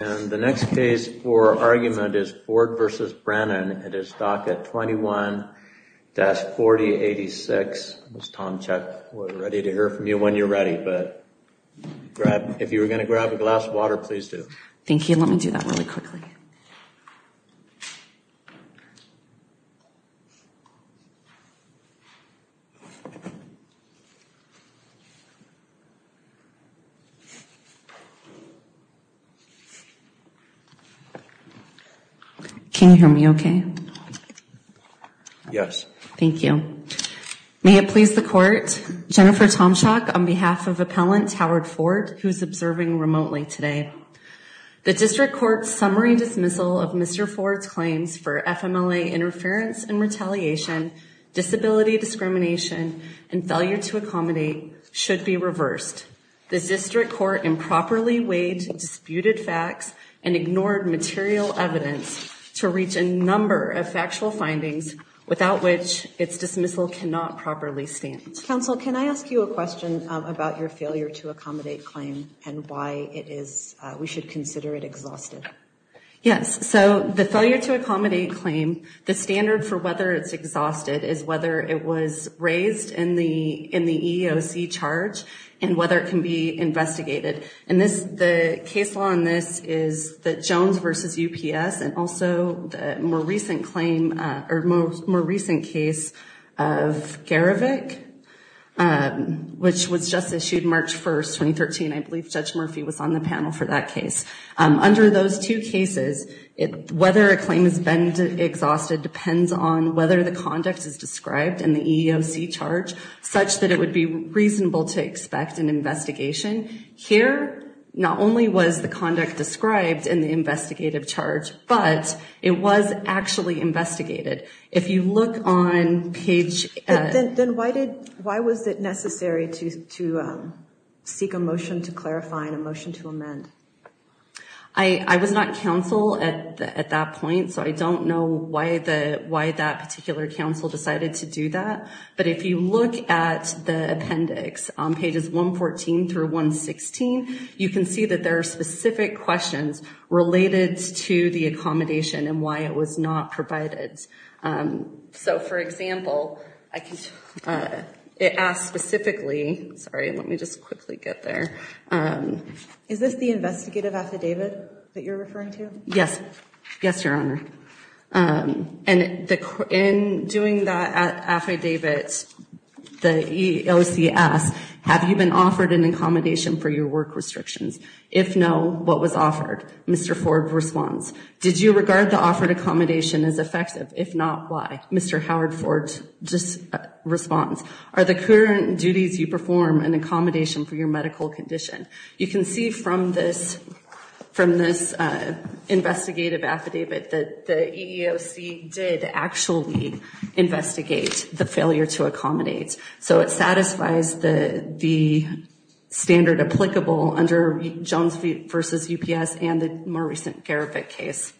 and the next case for argument is Ford v. Brennan. It is docket 21-4086. Ms. Tomczyk we're ready to hear from you when you're ready but if you were going to grab a glass of water please do. Thank you. Let me do that really quickly. Can you hear me okay? Yes. Thank you. May it please the court, Jennifer Tomczyk on behalf of appellant Howard Ford who's observing remotely today. The district court's summary dismissal of Mr. Ford's claims for FMLA interference and retaliation, disability discrimination, and failure to accommodate should be reversed. The district court improperly weighed disputed facts and ignored material evidence to reach a number of factual findings without which its dismissal cannot properly stand. Counsel, can I ask you a question about your failure to accommodate claim and why it is we should consider it exhausted? Yes. So the failure to accommodate claim, the standard for whether it's exhausted is whether it was raised in the EEOC charge and whether it can be investigated. And the case law on this is the Jones v. UPS and also the more recent claim or more recent case of Garrovick which was just issued March 1st, 2013. I believe Judge Murphy was on the panel for that case. Under those two cases, whether a claim has been exhausted depends on whether the conduct is described in the EEOC charge such that it would be reasonable to expect an investigation. Here, not only was the conduct described in the investigative charge, but it was actually investigated. If you look on page Then why was it necessary to seek a motion to clarify and a motion to amend? I was not counsel at that point, so I don't know why that particular counsel decided to do that. But if you look at the appendix on pages 114 through 116, you can see that there are specific questions related to the accommodation and why it was not provided. So for example, it asks specifically, sorry, let me just quickly get there. Is this the investigative affidavit that you're referring to? Yes, Your Honor. And in doing that affidavit, the EEOC asks, have you been offered an accommodation for your work restrictions? If no, what was offered? Mr. Ford responds. Did you regard the offered accommodation as effective? If not, why? Mr. Howard Ford responds. Are the current duties you perform an accommodation for your medical condition? You can see from this investigative affidavit that the EEOC did actually investigate the failure to accommodate. So it satisfies the standard applicable under Jones v. UPS and the more recent Gariffic case.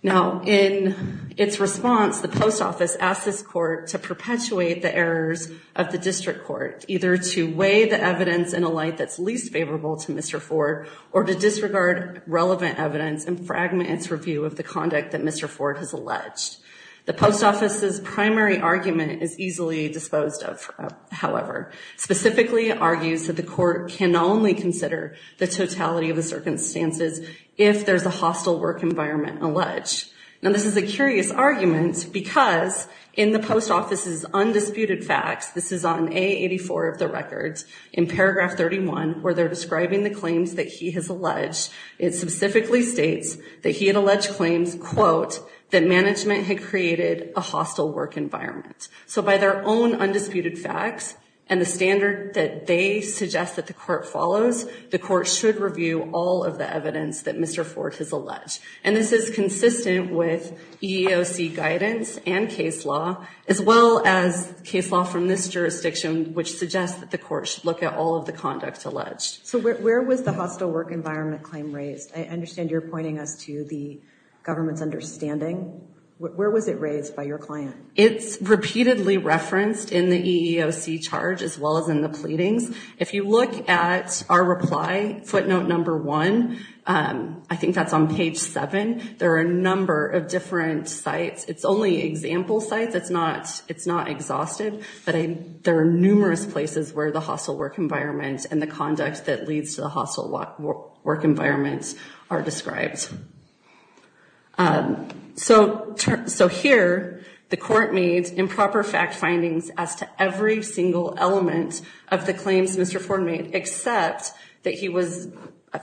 Now, in its response, the post office asked this court to perpetuate the errors of the district court, either to weigh the evidence in a light that's least favorable to Mr. Ford or to disregard relevant evidence and fragment its review of the conduct that Mr. Ford has alleged. The post office's primary argument is easily disposed of, however. Specifically, it argues that the court can only consider the totality of the circumstances if there's a hostile work environment alleged. Now, this is a curious argument because in the post office's undisputed facts, this is on A84 of the records, in paragraph 31, where they're describing the claims that he has alleged, it specifically states that he had alleged claims, quote, that management had created a hostile work environment. So by their own undisputed facts and the standard that they suggest that the court follows, the court should review all of the evidence that Mr. Ford has alleged. And this is consistent with EEOC guidance and case law, as well as case law from this jurisdiction, which suggests that the court should look at all of the conduct alleged. So where was the hostile work environment claim raised? I understand you're pointing us to the government's understanding. Where was it raised by your client? It's repeatedly referenced in the EEOC charge, as well as in the pleadings. If you look at our reply, footnote number one, I think that's on page seven. There are a number of different sites. It's only example sites. It's not exhausted. But there are numerous places where the hostile work environment and the conduct that leads to the hostile work environment are described. So here, the court made improper fact findings as to every single element of the claims Mr. Ford made, except that he was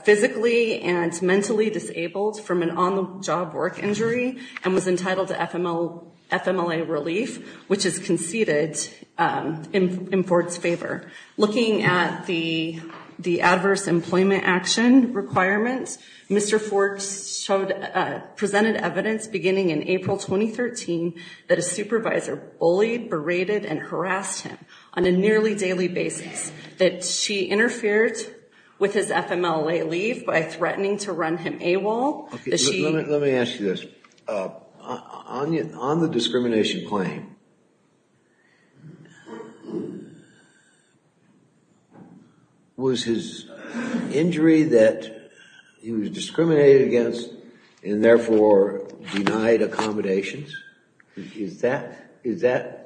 physically and mentally disabled from an on-the-job work injury and was entitled to FMLA relief, which is conceded in Ford's favor. Looking at the adverse employment action requirements, Mr. Ford presented evidence beginning in April 2013 that a supervisor bullied, berated, and harassed him on a nearly daily basis, that she interfered with his FMLA leave by threatening to run him AWOL. Let me ask you this. On the discrimination claim, was his injury that he was discriminated against and therefore denied accommodations? Is that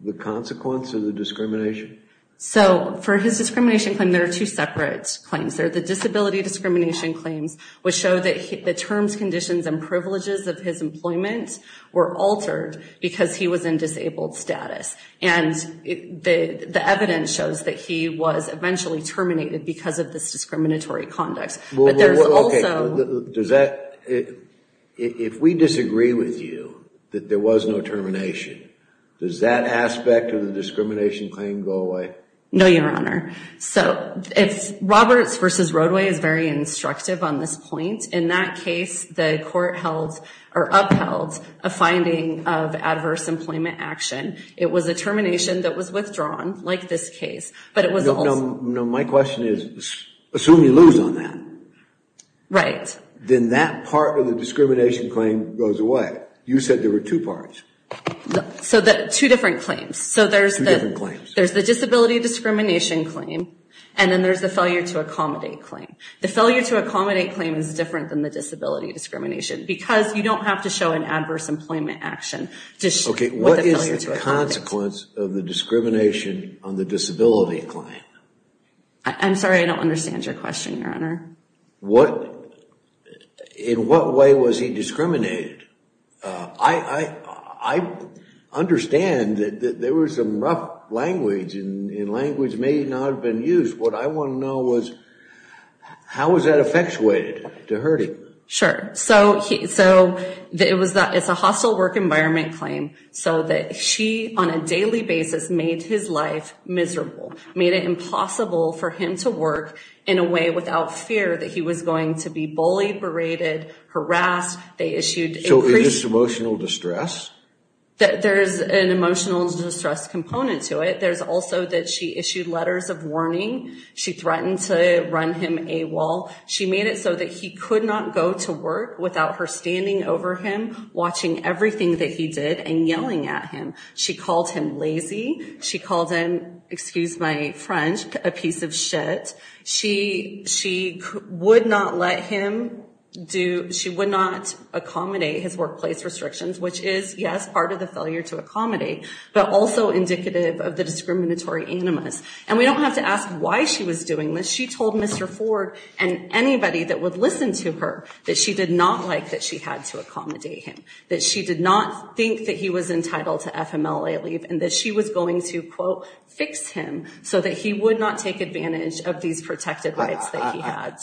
the consequence of the discrimination? So for his discrimination claim, there are two separate claims. There are the disability discrimination claims, which show that the terms, conditions, and privileges of his employment were altered because he was in disabled status. And the evidence shows that he was eventually terminated because of this discriminatory conduct. If we disagree with you that there was no termination, does that aspect of the discrimination claim go away? No, Your Honor. Roberts v. Roadway is very instructive on this point. In that case, the court upheld a finding of adverse employment action. It was a termination that was withdrawn, like this case. My question is, assume you lose on that. Then that part of the discrimination claim goes away. You said there were two parts. Two different claims. There's the disability discrimination claim, and then there's the failure to accommodate claim. The failure to accommodate claim is different than the disability discrimination because you don't have to show an adverse employment action. Okay, what is the consequence of the discrimination on the disability claim? I'm sorry, I don't understand your question, Your Honor. In what way was he discriminated? I understand that there was some rough language and language may not have been used. What I want to know was, how was that effectuated to hurt him? Sure. So, it's a hostile work environment claim. So that she, on a daily basis, made his life miserable. Made it impossible for him to work in a way without fear that he was going to be bullied, berated, harassed. So is this emotional distress? There's an emotional distress component to it. There's also that she issued letters of warning. She threatened to run him AWOL. She made it so that he could not go to work without her standing over him, watching everything that he did, and yelling at him. She called him lazy. She called him, excuse my French, a piece of shit. She would not let him do, she would not accommodate his workplace restrictions, which is, yes, part of the failure to accommodate, but also indicative of the discriminatory animus. And we don't have to ask why she was doing this. She told Mr. Ford and anybody that would listen to her that she did not like that she had to accommodate him, that she did not think that he was entitled to FMLA leave, and that she was going to, quote, fix him so that he would not take advantage of these protected rights that he had.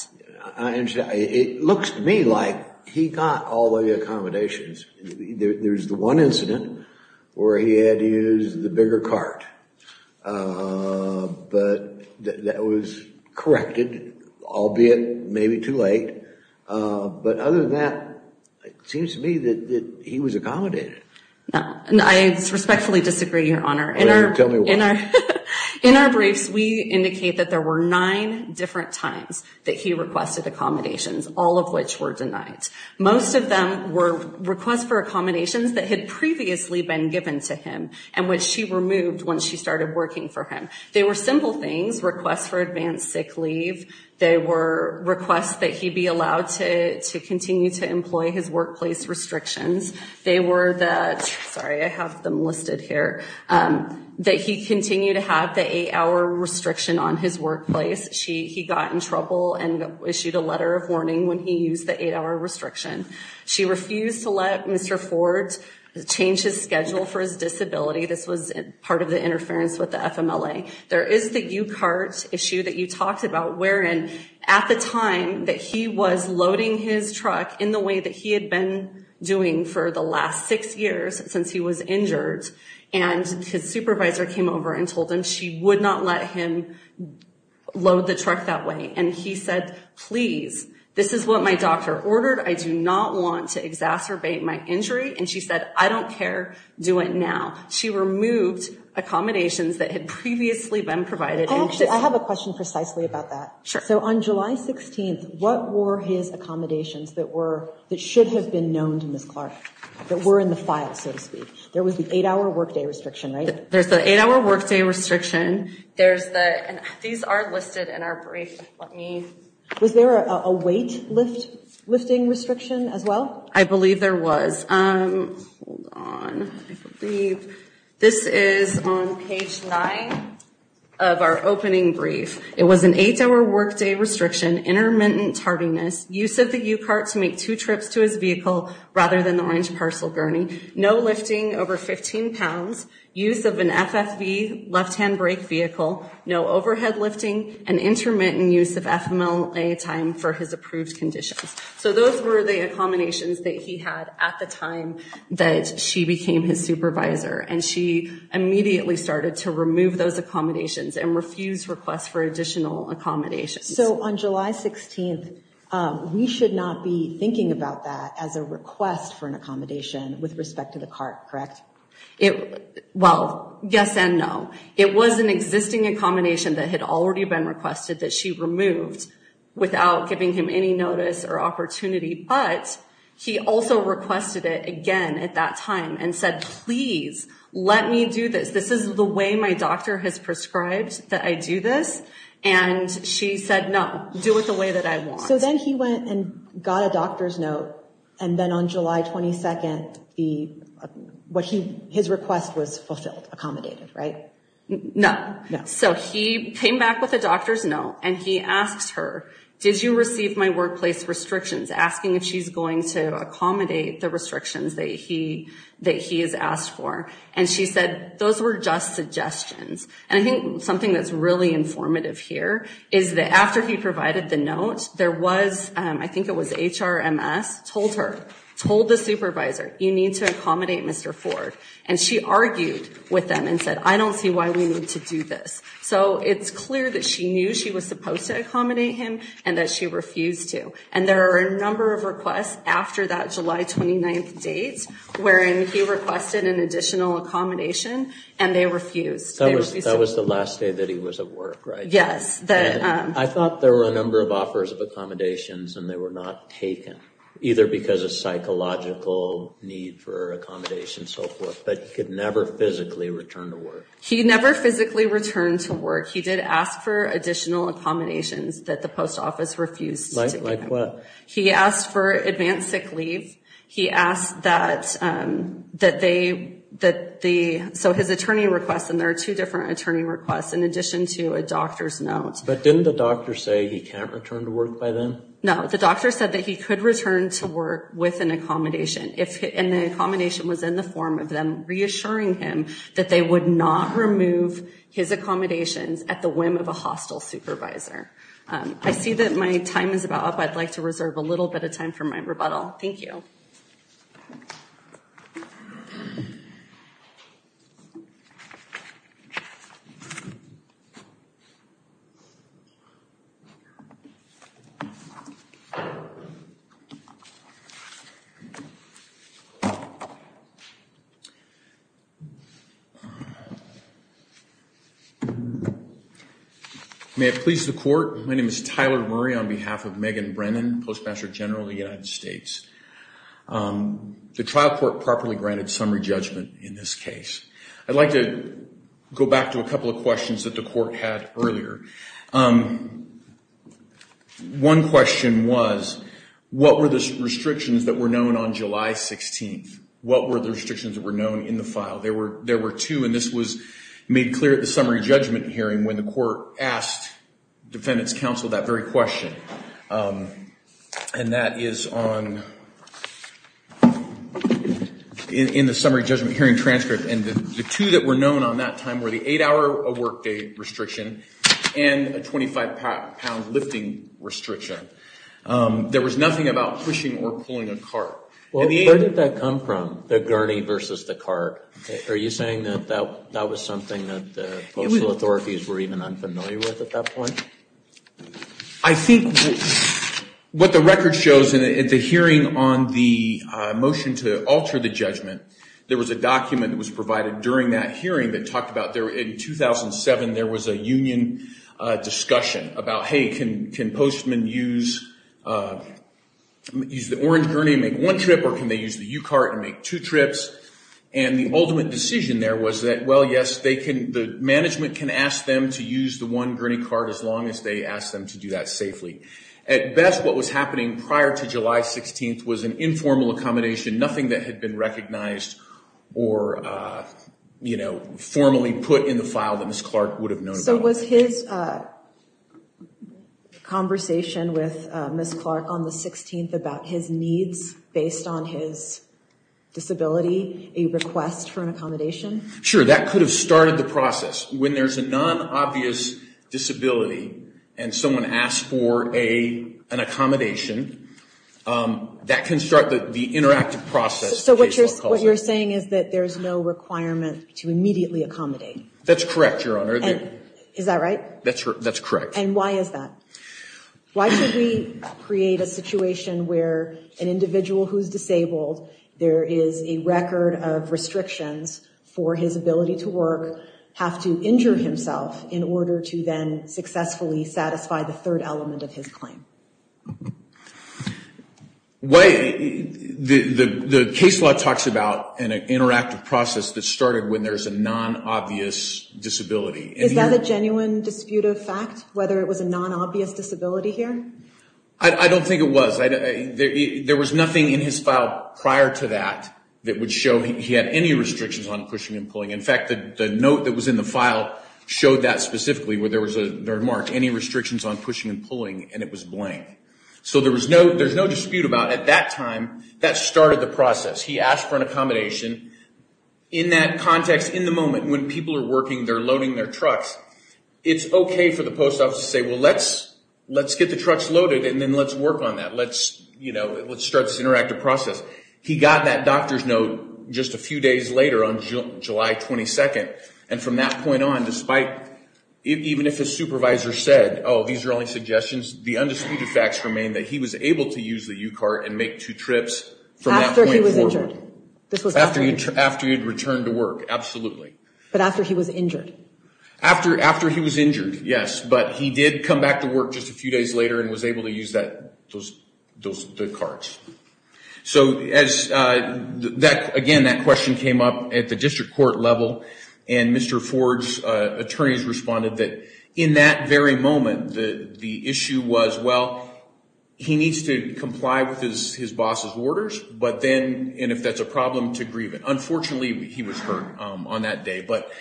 It looks to me like he got all the accommodations. There's the one incident where he had to use the bigger cart. But that was corrected, albeit maybe too late. But other than that, it seems to me that he was accommodated. I respectfully disagree, Your Honor. Tell me why. In our briefs, we indicate that there were nine different times that he requested accommodations, all of which were denied. Most of them were requests for accommodations that had previously been given to him and which she removed when she started working for him. They were simple things, requests for advanced sick leave. They were requests that he be allowed to continue to employ his workplace restrictions. They were the, sorry, I have them listed here, that he continue to have the eight-hour restriction on his workplace. He got in trouble and issued a letter of warning when he used the eight-hour restriction. She refused to let Mr. Ford change his schedule for his disability. This was part of the interference with the FMLA. There is the U-cart issue that you talked about wherein at the time that he was loading his truck in the way that he had been doing for the last six years since he was injured, and his supervisor came over and told him she would not let him load the truck that way. And he said, please, this is what my doctor ordered. I do not want to exacerbate my injury. And she said, I don't care. Do it now. She removed accommodations that had previously been provided. I have a question precisely about that. Sure. So on July 16th, what were his accommodations that were, that should have been known to Ms. Clark, that were in the file, so to speak? There was the eight-hour workday restriction, right? There's the eight-hour workday restriction. There's the, these are listed in our brief. Let me. Was there a weight lift, lifting restriction as well? I believe there was. Hold on. I believe this is on page nine of our opening brief. It was an eight-hour workday restriction, intermittent tardiness, use of the U-cart to make two trips to his vehicle rather than the orange parcel gurney, no lifting over 15 pounds, use of an FFV left-hand brake vehicle, no overhead lifting, and intermittent use of FMLA time for his approved conditions. So those were the accommodations that he had at the time that she became his supervisor. And she immediately started to remove those accommodations and refuse requests for additional accommodations. So on July 16th, we should not be thinking about that as a request for an accommodation with respect to the cart, correct? Well, yes and no. It was an existing accommodation that had already been requested that she removed without giving him any notice or opportunity. But he also requested it again at that time and said, please, let me do this. This is the way my doctor has prescribed that I do this. And she said, no, do it the way that I want. So then he went and got a doctor's note, and then on July 22nd, his request was fulfilled, accommodated, right? No. So he came back with a doctor's note, and he asked her, did you receive my workplace restrictions, asking if she's going to accommodate the restrictions that he has asked for. And she said, those were just suggestions. And I think something that's really informative here is that after he provided the note, there was, I think it was HRMS, told her, told the supervisor, you need to accommodate Mr. Ford. And she argued with them and said, I don't see why we need to do this. So it's clear that she knew she was supposed to accommodate him and that she refused to. And there are a number of requests after that July 29th date wherein he requested an additional accommodation, and they refused. That was the last day that he was at work, right? Yes. I thought there were a number of offers of accommodations and they were not taken, either because of psychological need for accommodation and so forth, but he could never physically return to work. He never physically returned to work. He did ask for additional accommodations that the post office refused to give him. Like what? He asked for advanced sick leave. He asked that they, so his attorney requests, and there are two different attorney requests in addition to a doctor's note. But didn't the doctor say he can't return to work by then? No, the doctor said that he could return to work with an accommodation, and the accommodation was in the form of them reassuring him that they would not remove his accommodations at the whim of a hostile supervisor. I see that my time is about up. I'd like to reserve a little bit of time for my rebuttal. Thank you. My name is Tyler Murray on behalf of Megan Brennan, Postmaster General of the United States. The trial court properly granted summary judgment in this case. I'd like to go back to a couple of questions that the court had earlier. One question was, what were the restrictions that were known on July 16th? What were the restrictions that were known in the file? There were two, and this was made clear at the summary judgment hearing when the court asked defendants counsel that very question. And that is on, in the summary judgment hearing transcript. And the two that were known on that time were the eight-hour workday restriction and a 25-pound lifting restriction. There was nothing about pushing or pulling a cart. Well, where did that come from, the gurney versus the cart? Are you saying that that was something that the postal authorities were even unfamiliar with at that point? I think what the record shows in the hearing on the motion to alter the judgment, there was a document that was provided during that hearing that talked about, in 2007 there was a union discussion about, hey, can postmen use the orange gurney and make one trip, or can they use the U-cart and make two trips? And the ultimate decision there was that, well, yes, the management can ask them to use the one gurney cart as long as they ask them to do that safely. At best, what was happening prior to July 16th was an informal accommodation, nothing that had been recognized or formally put in the file that Ms. Clark would have known about. So was his conversation with Ms. Clark on the 16th about his needs based on his disability a request for an accommodation? Sure, that could have started the process. When there's a non-obvious disability and someone asks for an accommodation, that can start the interactive process. So what you're saying is that there's no requirement to immediately accommodate? That's correct, Your Honor. Is that right? That's correct. And why is that? Why should we create a situation where an individual who's disabled, there is a record of restrictions for his ability to work, have to injure himself in order to then successfully satisfy the third element of his claim? The case law talks about an interactive process that started when there's a non-obvious disability. Is that a genuine dispute of fact, whether it was a non-obvious disability here? I don't think it was. There was nothing in his file prior to that that would show he had any restrictions on pushing and pulling. In fact, the note that was in the file showed that specifically, where there was a remark, any restrictions on pushing and pulling, and it was blank. So there's no dispute about, at that time, that started the process. He asked for an accommodation. In that context, in the moment, when people are working, they're loading their trucks, it's okay for the post office to say, well, let's get the trucks loaded and then let's work on that. Let's start this interactive process. He got that doctor's note just a few days later on July 22nd, and from that point on, even if his supervisor said, oh, these are only suggestions, the undisputed facts remain that he was able to use the U-cart and make two trips from that point forward. After he was injured? After he had returned to work, absolutely. But after he was injured? After he was injured, yes. But he did come back to work just a few days later and was able to use the carts. So, again, that question came up at the district court level, and Mr. Ford's attorneys responded that in that very moment, the issue was, well, he needs to comply with his boss's orders, and if that's a problem, to grieve it. Unfortunately, he was hurt on that day. But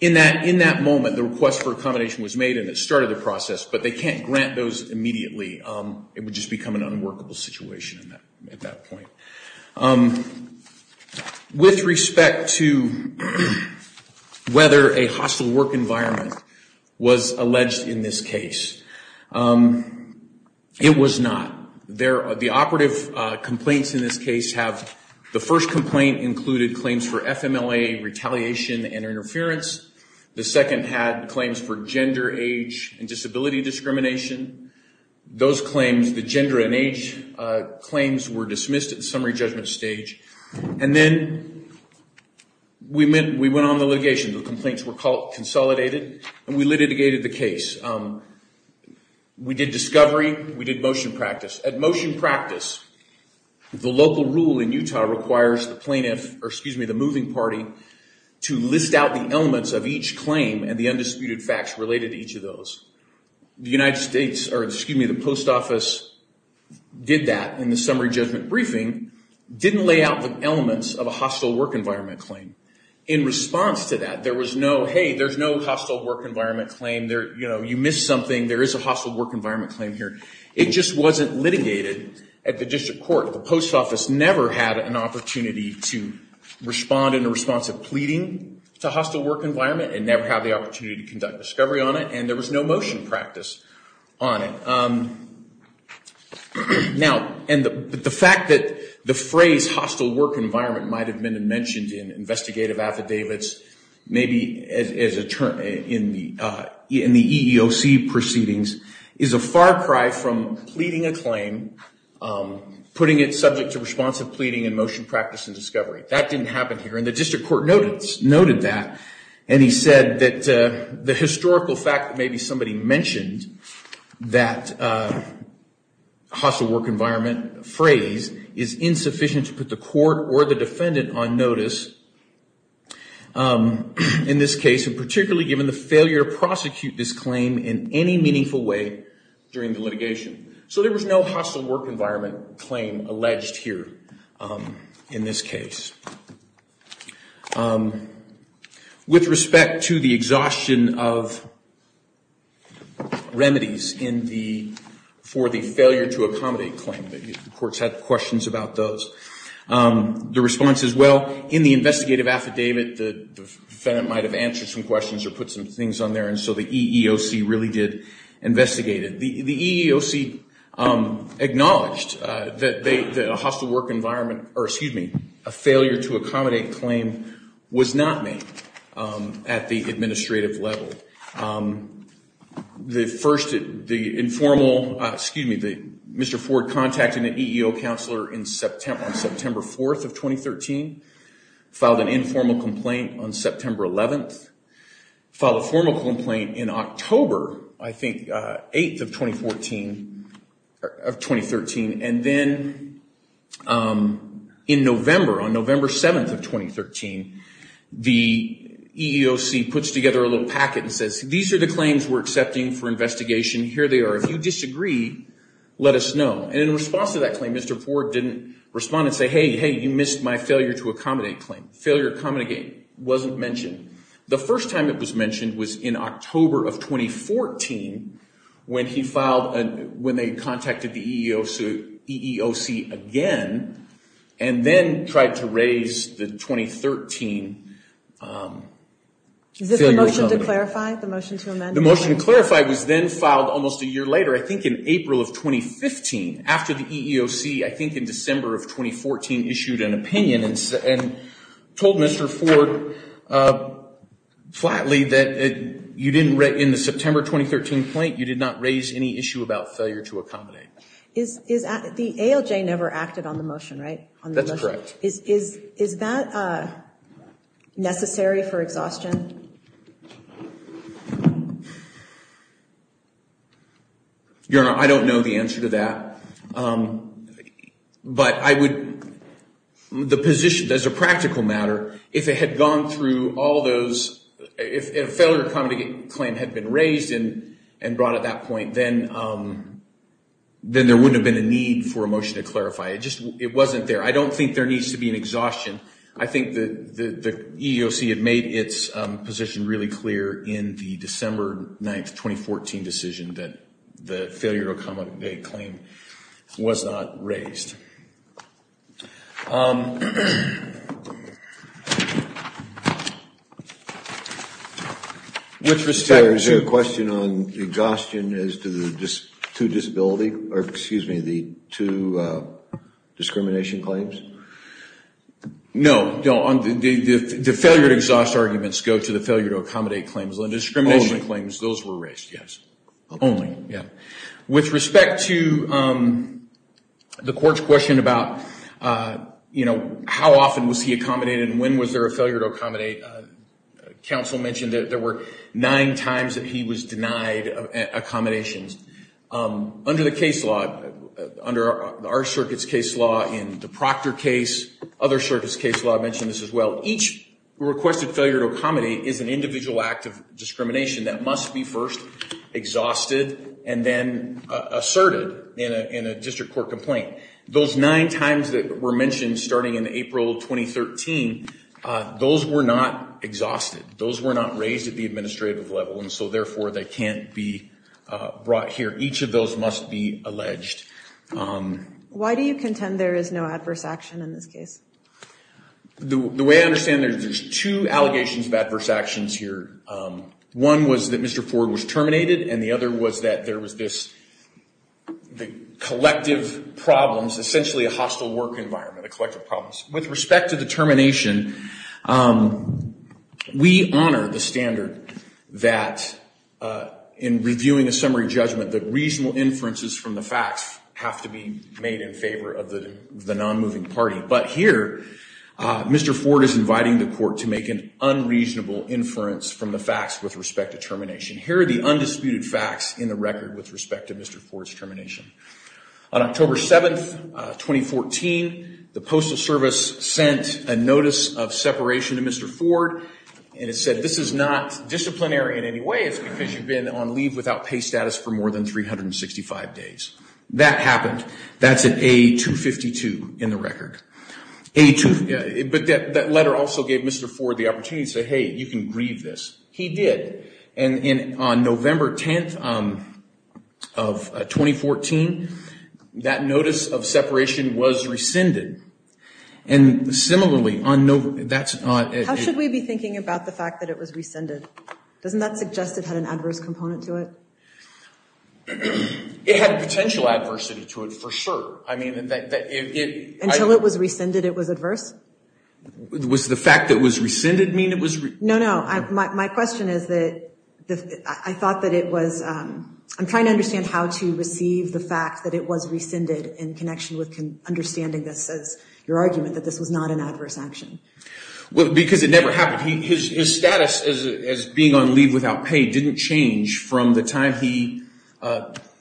in that moment, the request for accommodation was made and it started the process, but they can't grant those immediately. It would just become an unworkable situation at that point. With respect to whether a hostile work environment was alleged in this case, it was not. The operative complaints in this case have the first complaint included claims for FMLA retaliation and interference. The second had claims for gender, age, and disability discrimination. Those claims, the gender and age claims, were dismissed at the summary judgment stage. And then we went on the litigation. The complaints were consolidated and we litigated the case. We did discovery. We did motion practice. At motion practice, the local rule in Utah requires the moving party to list out the elements of each claim and the undisputed facts related to each of those. The post office did that in the summary judgment briefing, didn't lay out the elements of a hostile work environment claim. In response to that, there was no, hey, there's no hostile work environment claim. You missed something. There is a hostile work environment claim here. It just wasn't litigated at the district court. The post office never had an opportunity to respond in response to pleading to hostile work environment and never had the opportunity to conduct discovery on it, and there was no motion practice on it. Now, the fact that the phrase hostile work environment might have been mentioned in investigative affidavits, maybe in the EEOC proceedings, is a far cry from pleading a claim, putting it subject to responsive pleading and motion practice and discovery. That didn't happen here, and the district court noted that, and he said that the historical fact that maybe somebody mentioned that hostile work environment phrase is insufficient to put the court or the defendant on notice in this case, and particularly given the failure to prosecute this claim in any meaningful way during the litigation. So there was no hostile work environment claim alleged here in this case. With respect to the exhaustion of remedies for the failure to accommodate claim, the courts had questions about those. The response is, well, in the investigative affidavit, the defendant might have answered some questions or put some things on there, and so the EEOC really did investigate it. The EEOC acknowledged that a hostile work environment, or excuse me, a failure to accommodate claim was not made at the administrative level. The first, the informal, excuse me, Mr. Ford contacted an EEO counselor on September 4th of 2013, filed an informal complaint on September 11th, filed a formal complaint in October, I think, 8th of 2013, and then in November, on November 7th of 2013, the EEOC puts together a little packet and says, these are the claims we're accepting for investigation, here they are. If you disagree, let us know. And in response to that claim, Mr. Ford didn't respond and say, hey, hey, you missed my failure to accommodate claim. Failure to accommodate wasn't mentioned. The first time it was mentioned was in October of 2014, when he filed, when they contacted the EEOC again, and then tried to raise the 2013 failure to accommodate. Is this the motion to clarify, the motion to amend? The motion to clarify was then filed almost a year later, I think in April of 2015, after the EEOC, I think in December of 2014, issued an opinion, and told Mr. Ford flatly that you didn't, in the September 2013 complaint, you did not raise any issue about failure to accommodate. The ALJ never acted on the motion, right? That's correct. Is that necessary for exhaustion? Your Honor, I don't know the answer to that. But I would, the position, as a practical matter, if it had gone through all those, if a failure to accommodate claim had been raised and brought at that point, then there wouldn't have been a need for a motion to clarify. It just wasn't there. I don't think there needs to be an exhaustion. I think the EEOC had made its position really clear in the December 9, 2014, decision that the failure to accommodate claim was not raised. Which respect to? Is there a question on exhaustion as to the two disability, or excuse me, the two discrimination claims? No. The failure to exhaust arguments go to the failure to accommodate claims. The discrimination claims, those were raised. Yes. Only. Yeah. With respect to the court's question about, you know, how often was he accommodated and when was there a failure to accommodate, counsel mentioned that there were nine times that he was denied accommodations. Under the case law, under our circuit's case law, in the Proctor case, other circuits' case law, I mentioned this as well, each requested failure to accommodate is an individual act of discrimination that must be first exhausted and then asserted in a district court complaint. Those nine times that were mentioned starting in April 2013, those were not exhausted. Those were not raised at the administrative level, and so therefore they can't be brought here. Each of those must be alleged. Why do you contend there is no adverse action in this case? The way I understand it, there's two allegations of adverse actions here. One was that Mr. Ford was terminated, and the other was that there was this collective problems, essentially a hostile work environment, a collective problems. With respect to the termination, we honor the standard that in reviewing a summary judgment, that reasonable inferences from the facts have to be made in favor of the non-moving party. But here, Mr. Ford is inviting the court to make an unreasonable inference from the facts with respect to termination. Here are the undisputed facts in the record with respect to Mr. Ford's termination. On October 7, 2014, the Postal Service sent a notice of separation to Mr. Ford, and it said this is not disciplinary in any way. It's because you've been on leave without pay status for more than 365 days. That happened. That's an A252 in the record. But that letter also gave Mr. Ford the opportunity to say, hey, you can grieve this. He did. And on November 10th of 2014, that notice of separation was rescinded. And similarly, on November – that's – How should we be thinking about the fact that it was rescinded? Doesn't that suggest it had an adverse component to it? It had a potential adversity to it, for sure. I mean, that it – Until it was rescinded, it was adverse? Was the fact that it was rescinded mean it was – No, no. My question is that I thought that it was – I'm trying to understand how to receive the fact that it was rescinded in connection with understanding this as your argument, that this was not an adverse action. Well, because it never happened. His status as being on leave without pay didn't change from the time he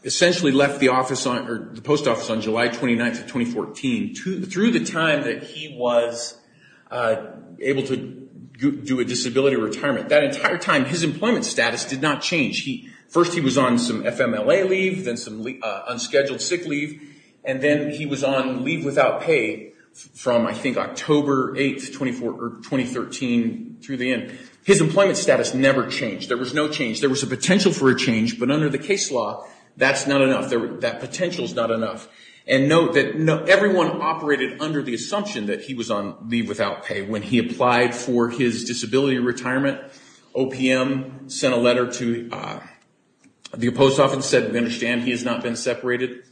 essentially left the office or the post office on July 29th of 2014 through the time that he was able to do a disability retirement. That entire time, his employment status did not change. First, he was on some FMLA leave, then some unscheduled sick leave, and then he was on leave without pay from, I think, October 8th, 2013 through the end. His employment status never changed. There was no change. There was a potential for a change, but under the case law, that's not enough. That potential's not enough. And note that everyone operated under the assumption that he was on leave without pay. When he applied for his disability retirement, OPM sent a letter to the post office and said, we understand he has not been separated.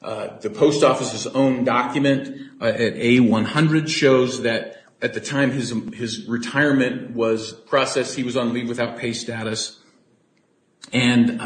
The post office's own document at A100 shows that at the time his retirement was processed, he was on leave without pay status, and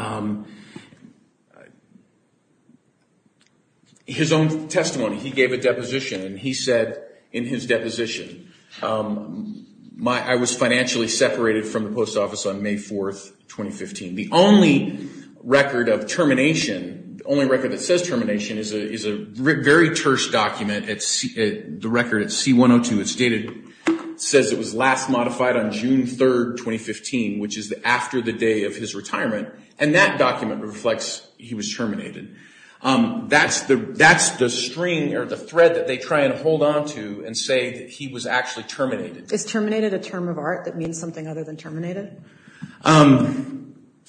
his own testimony, he gave a deposition, and he said in his deposition, I was financially separated from the post office on May 4th, 2015. The only record of termination, the only record that says termination is a very terse document, the record at C102. It says it was last modified on June 3rd, 2015, which is after the day of his retirement, and that document reflects he was terminated. That's the string or the thread that they try and hold onto and say that he was actually terminated. Is terminated a term of art that means something other than terminated?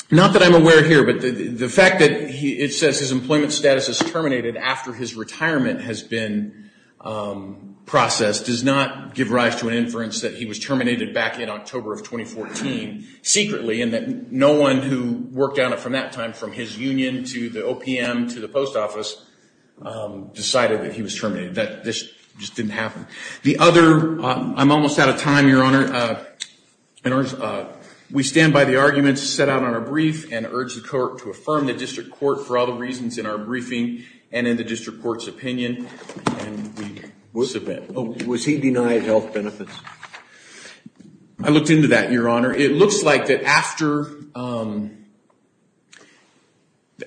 Not that I'm aware here, but the fact that it says his employment status is terminated after his retirement has been processed does not give rise to an inference that he was terminated back in October of 2014 secretly, and that no one who worked on it from that time, from his union to the OPM to the post office, decided that he was terminated, that this just didn't happen. The other, I'm almost out of time, Your Honor. We stand by the arguments set out on our brief and urge the court to affirm the district court for all the reasons in our briefing and in the district court's opinion, and we submit. Was he denied health benefits? I looked into that, Your Honor. It looks like that after,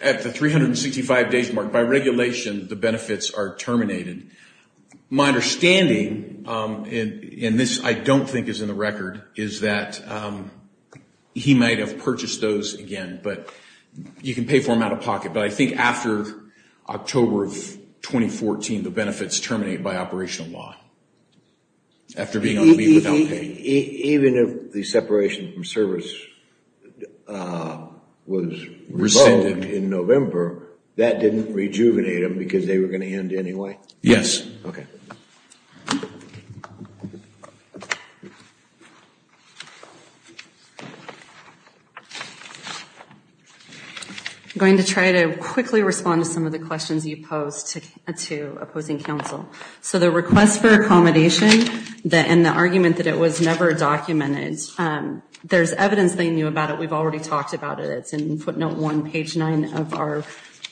at the 365 days mark, by regulation, the benefits are terminated. My understanding, and this I don't think is in the record, is that he might have purchased those again, but you can pay for them out of pocket, but I think after October of 2014, the benefits terminate by operational law, after being on leave without paying. Even if the separation from service was rescinded in November, that didn't rejuvenate him because they were going to end anyway? Yes. Okay. I'm going to try to quickly respond to some of the questions you posed to opposing counsel. So the request for accommodation and the argument that it was never documented, there's evidence they knew about it. We've already talked about it. It's in footnote one, page nine of our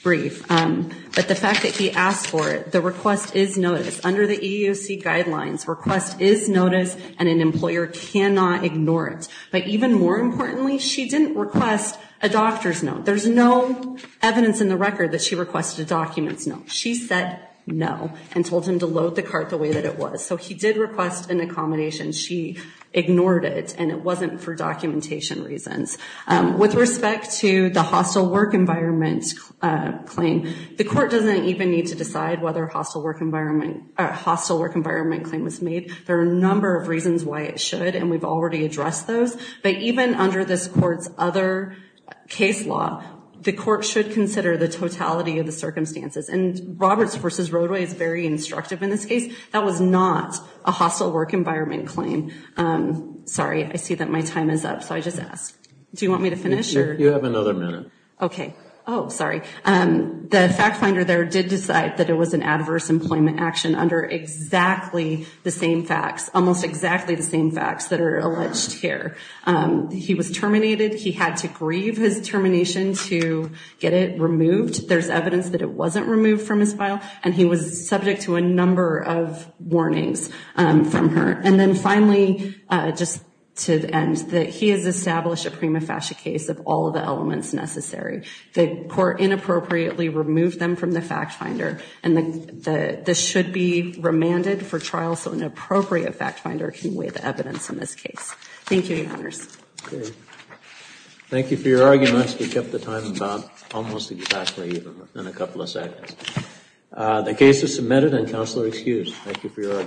brief. But the fact that he asked for it, the request is noticed. Under the EEOC guidelines, request is noticed, and an employer cannot ignore it. But even more importantly, she didn't request a doctor's note. There's no evidence in the record that she requested a document's note. She said no and told him to load the cart the way that it was. So he did request an accommodation. She ignored it, and it wasn't for documentation reasons. With respect to the hostile work environment claim, the court doesn't even need to decide whether a hostile work environment claim was made. There are a number of reasons why it should, and we've already addressed those. But even under this court's other case law, the court should consider the totality of the circumstances. And Roberts v. Roadway is very instructive in this case. That was not a hostile work environment claim. Sorry, I see that my time is up, so I just asked. Do you want me to finish? You have another minute. Okay. Oh, sorry. The fact finder there did decide that it was an adverse employment action under exactly the same facts, almost exactly the same facts that are alleged here. He was terminated. He had to grieve his termination to get it removed. There's evidence that it wasn't removed from his file, and he was subject to a number of warnings from her. And then finally, just to end, that he has established a prima facie case of all of the elements necessary. The court inappropriately removed them from the fact finder, and this should be remanded for trial so an appropriate fact finder can weigh the evidence in this case. Thank you, Your Honors. Great. Thank you for your arguments. We kept the time about almost exactly even within a couple of seconds. The case is submitted, and Counselor excused. Thank you for your arguments.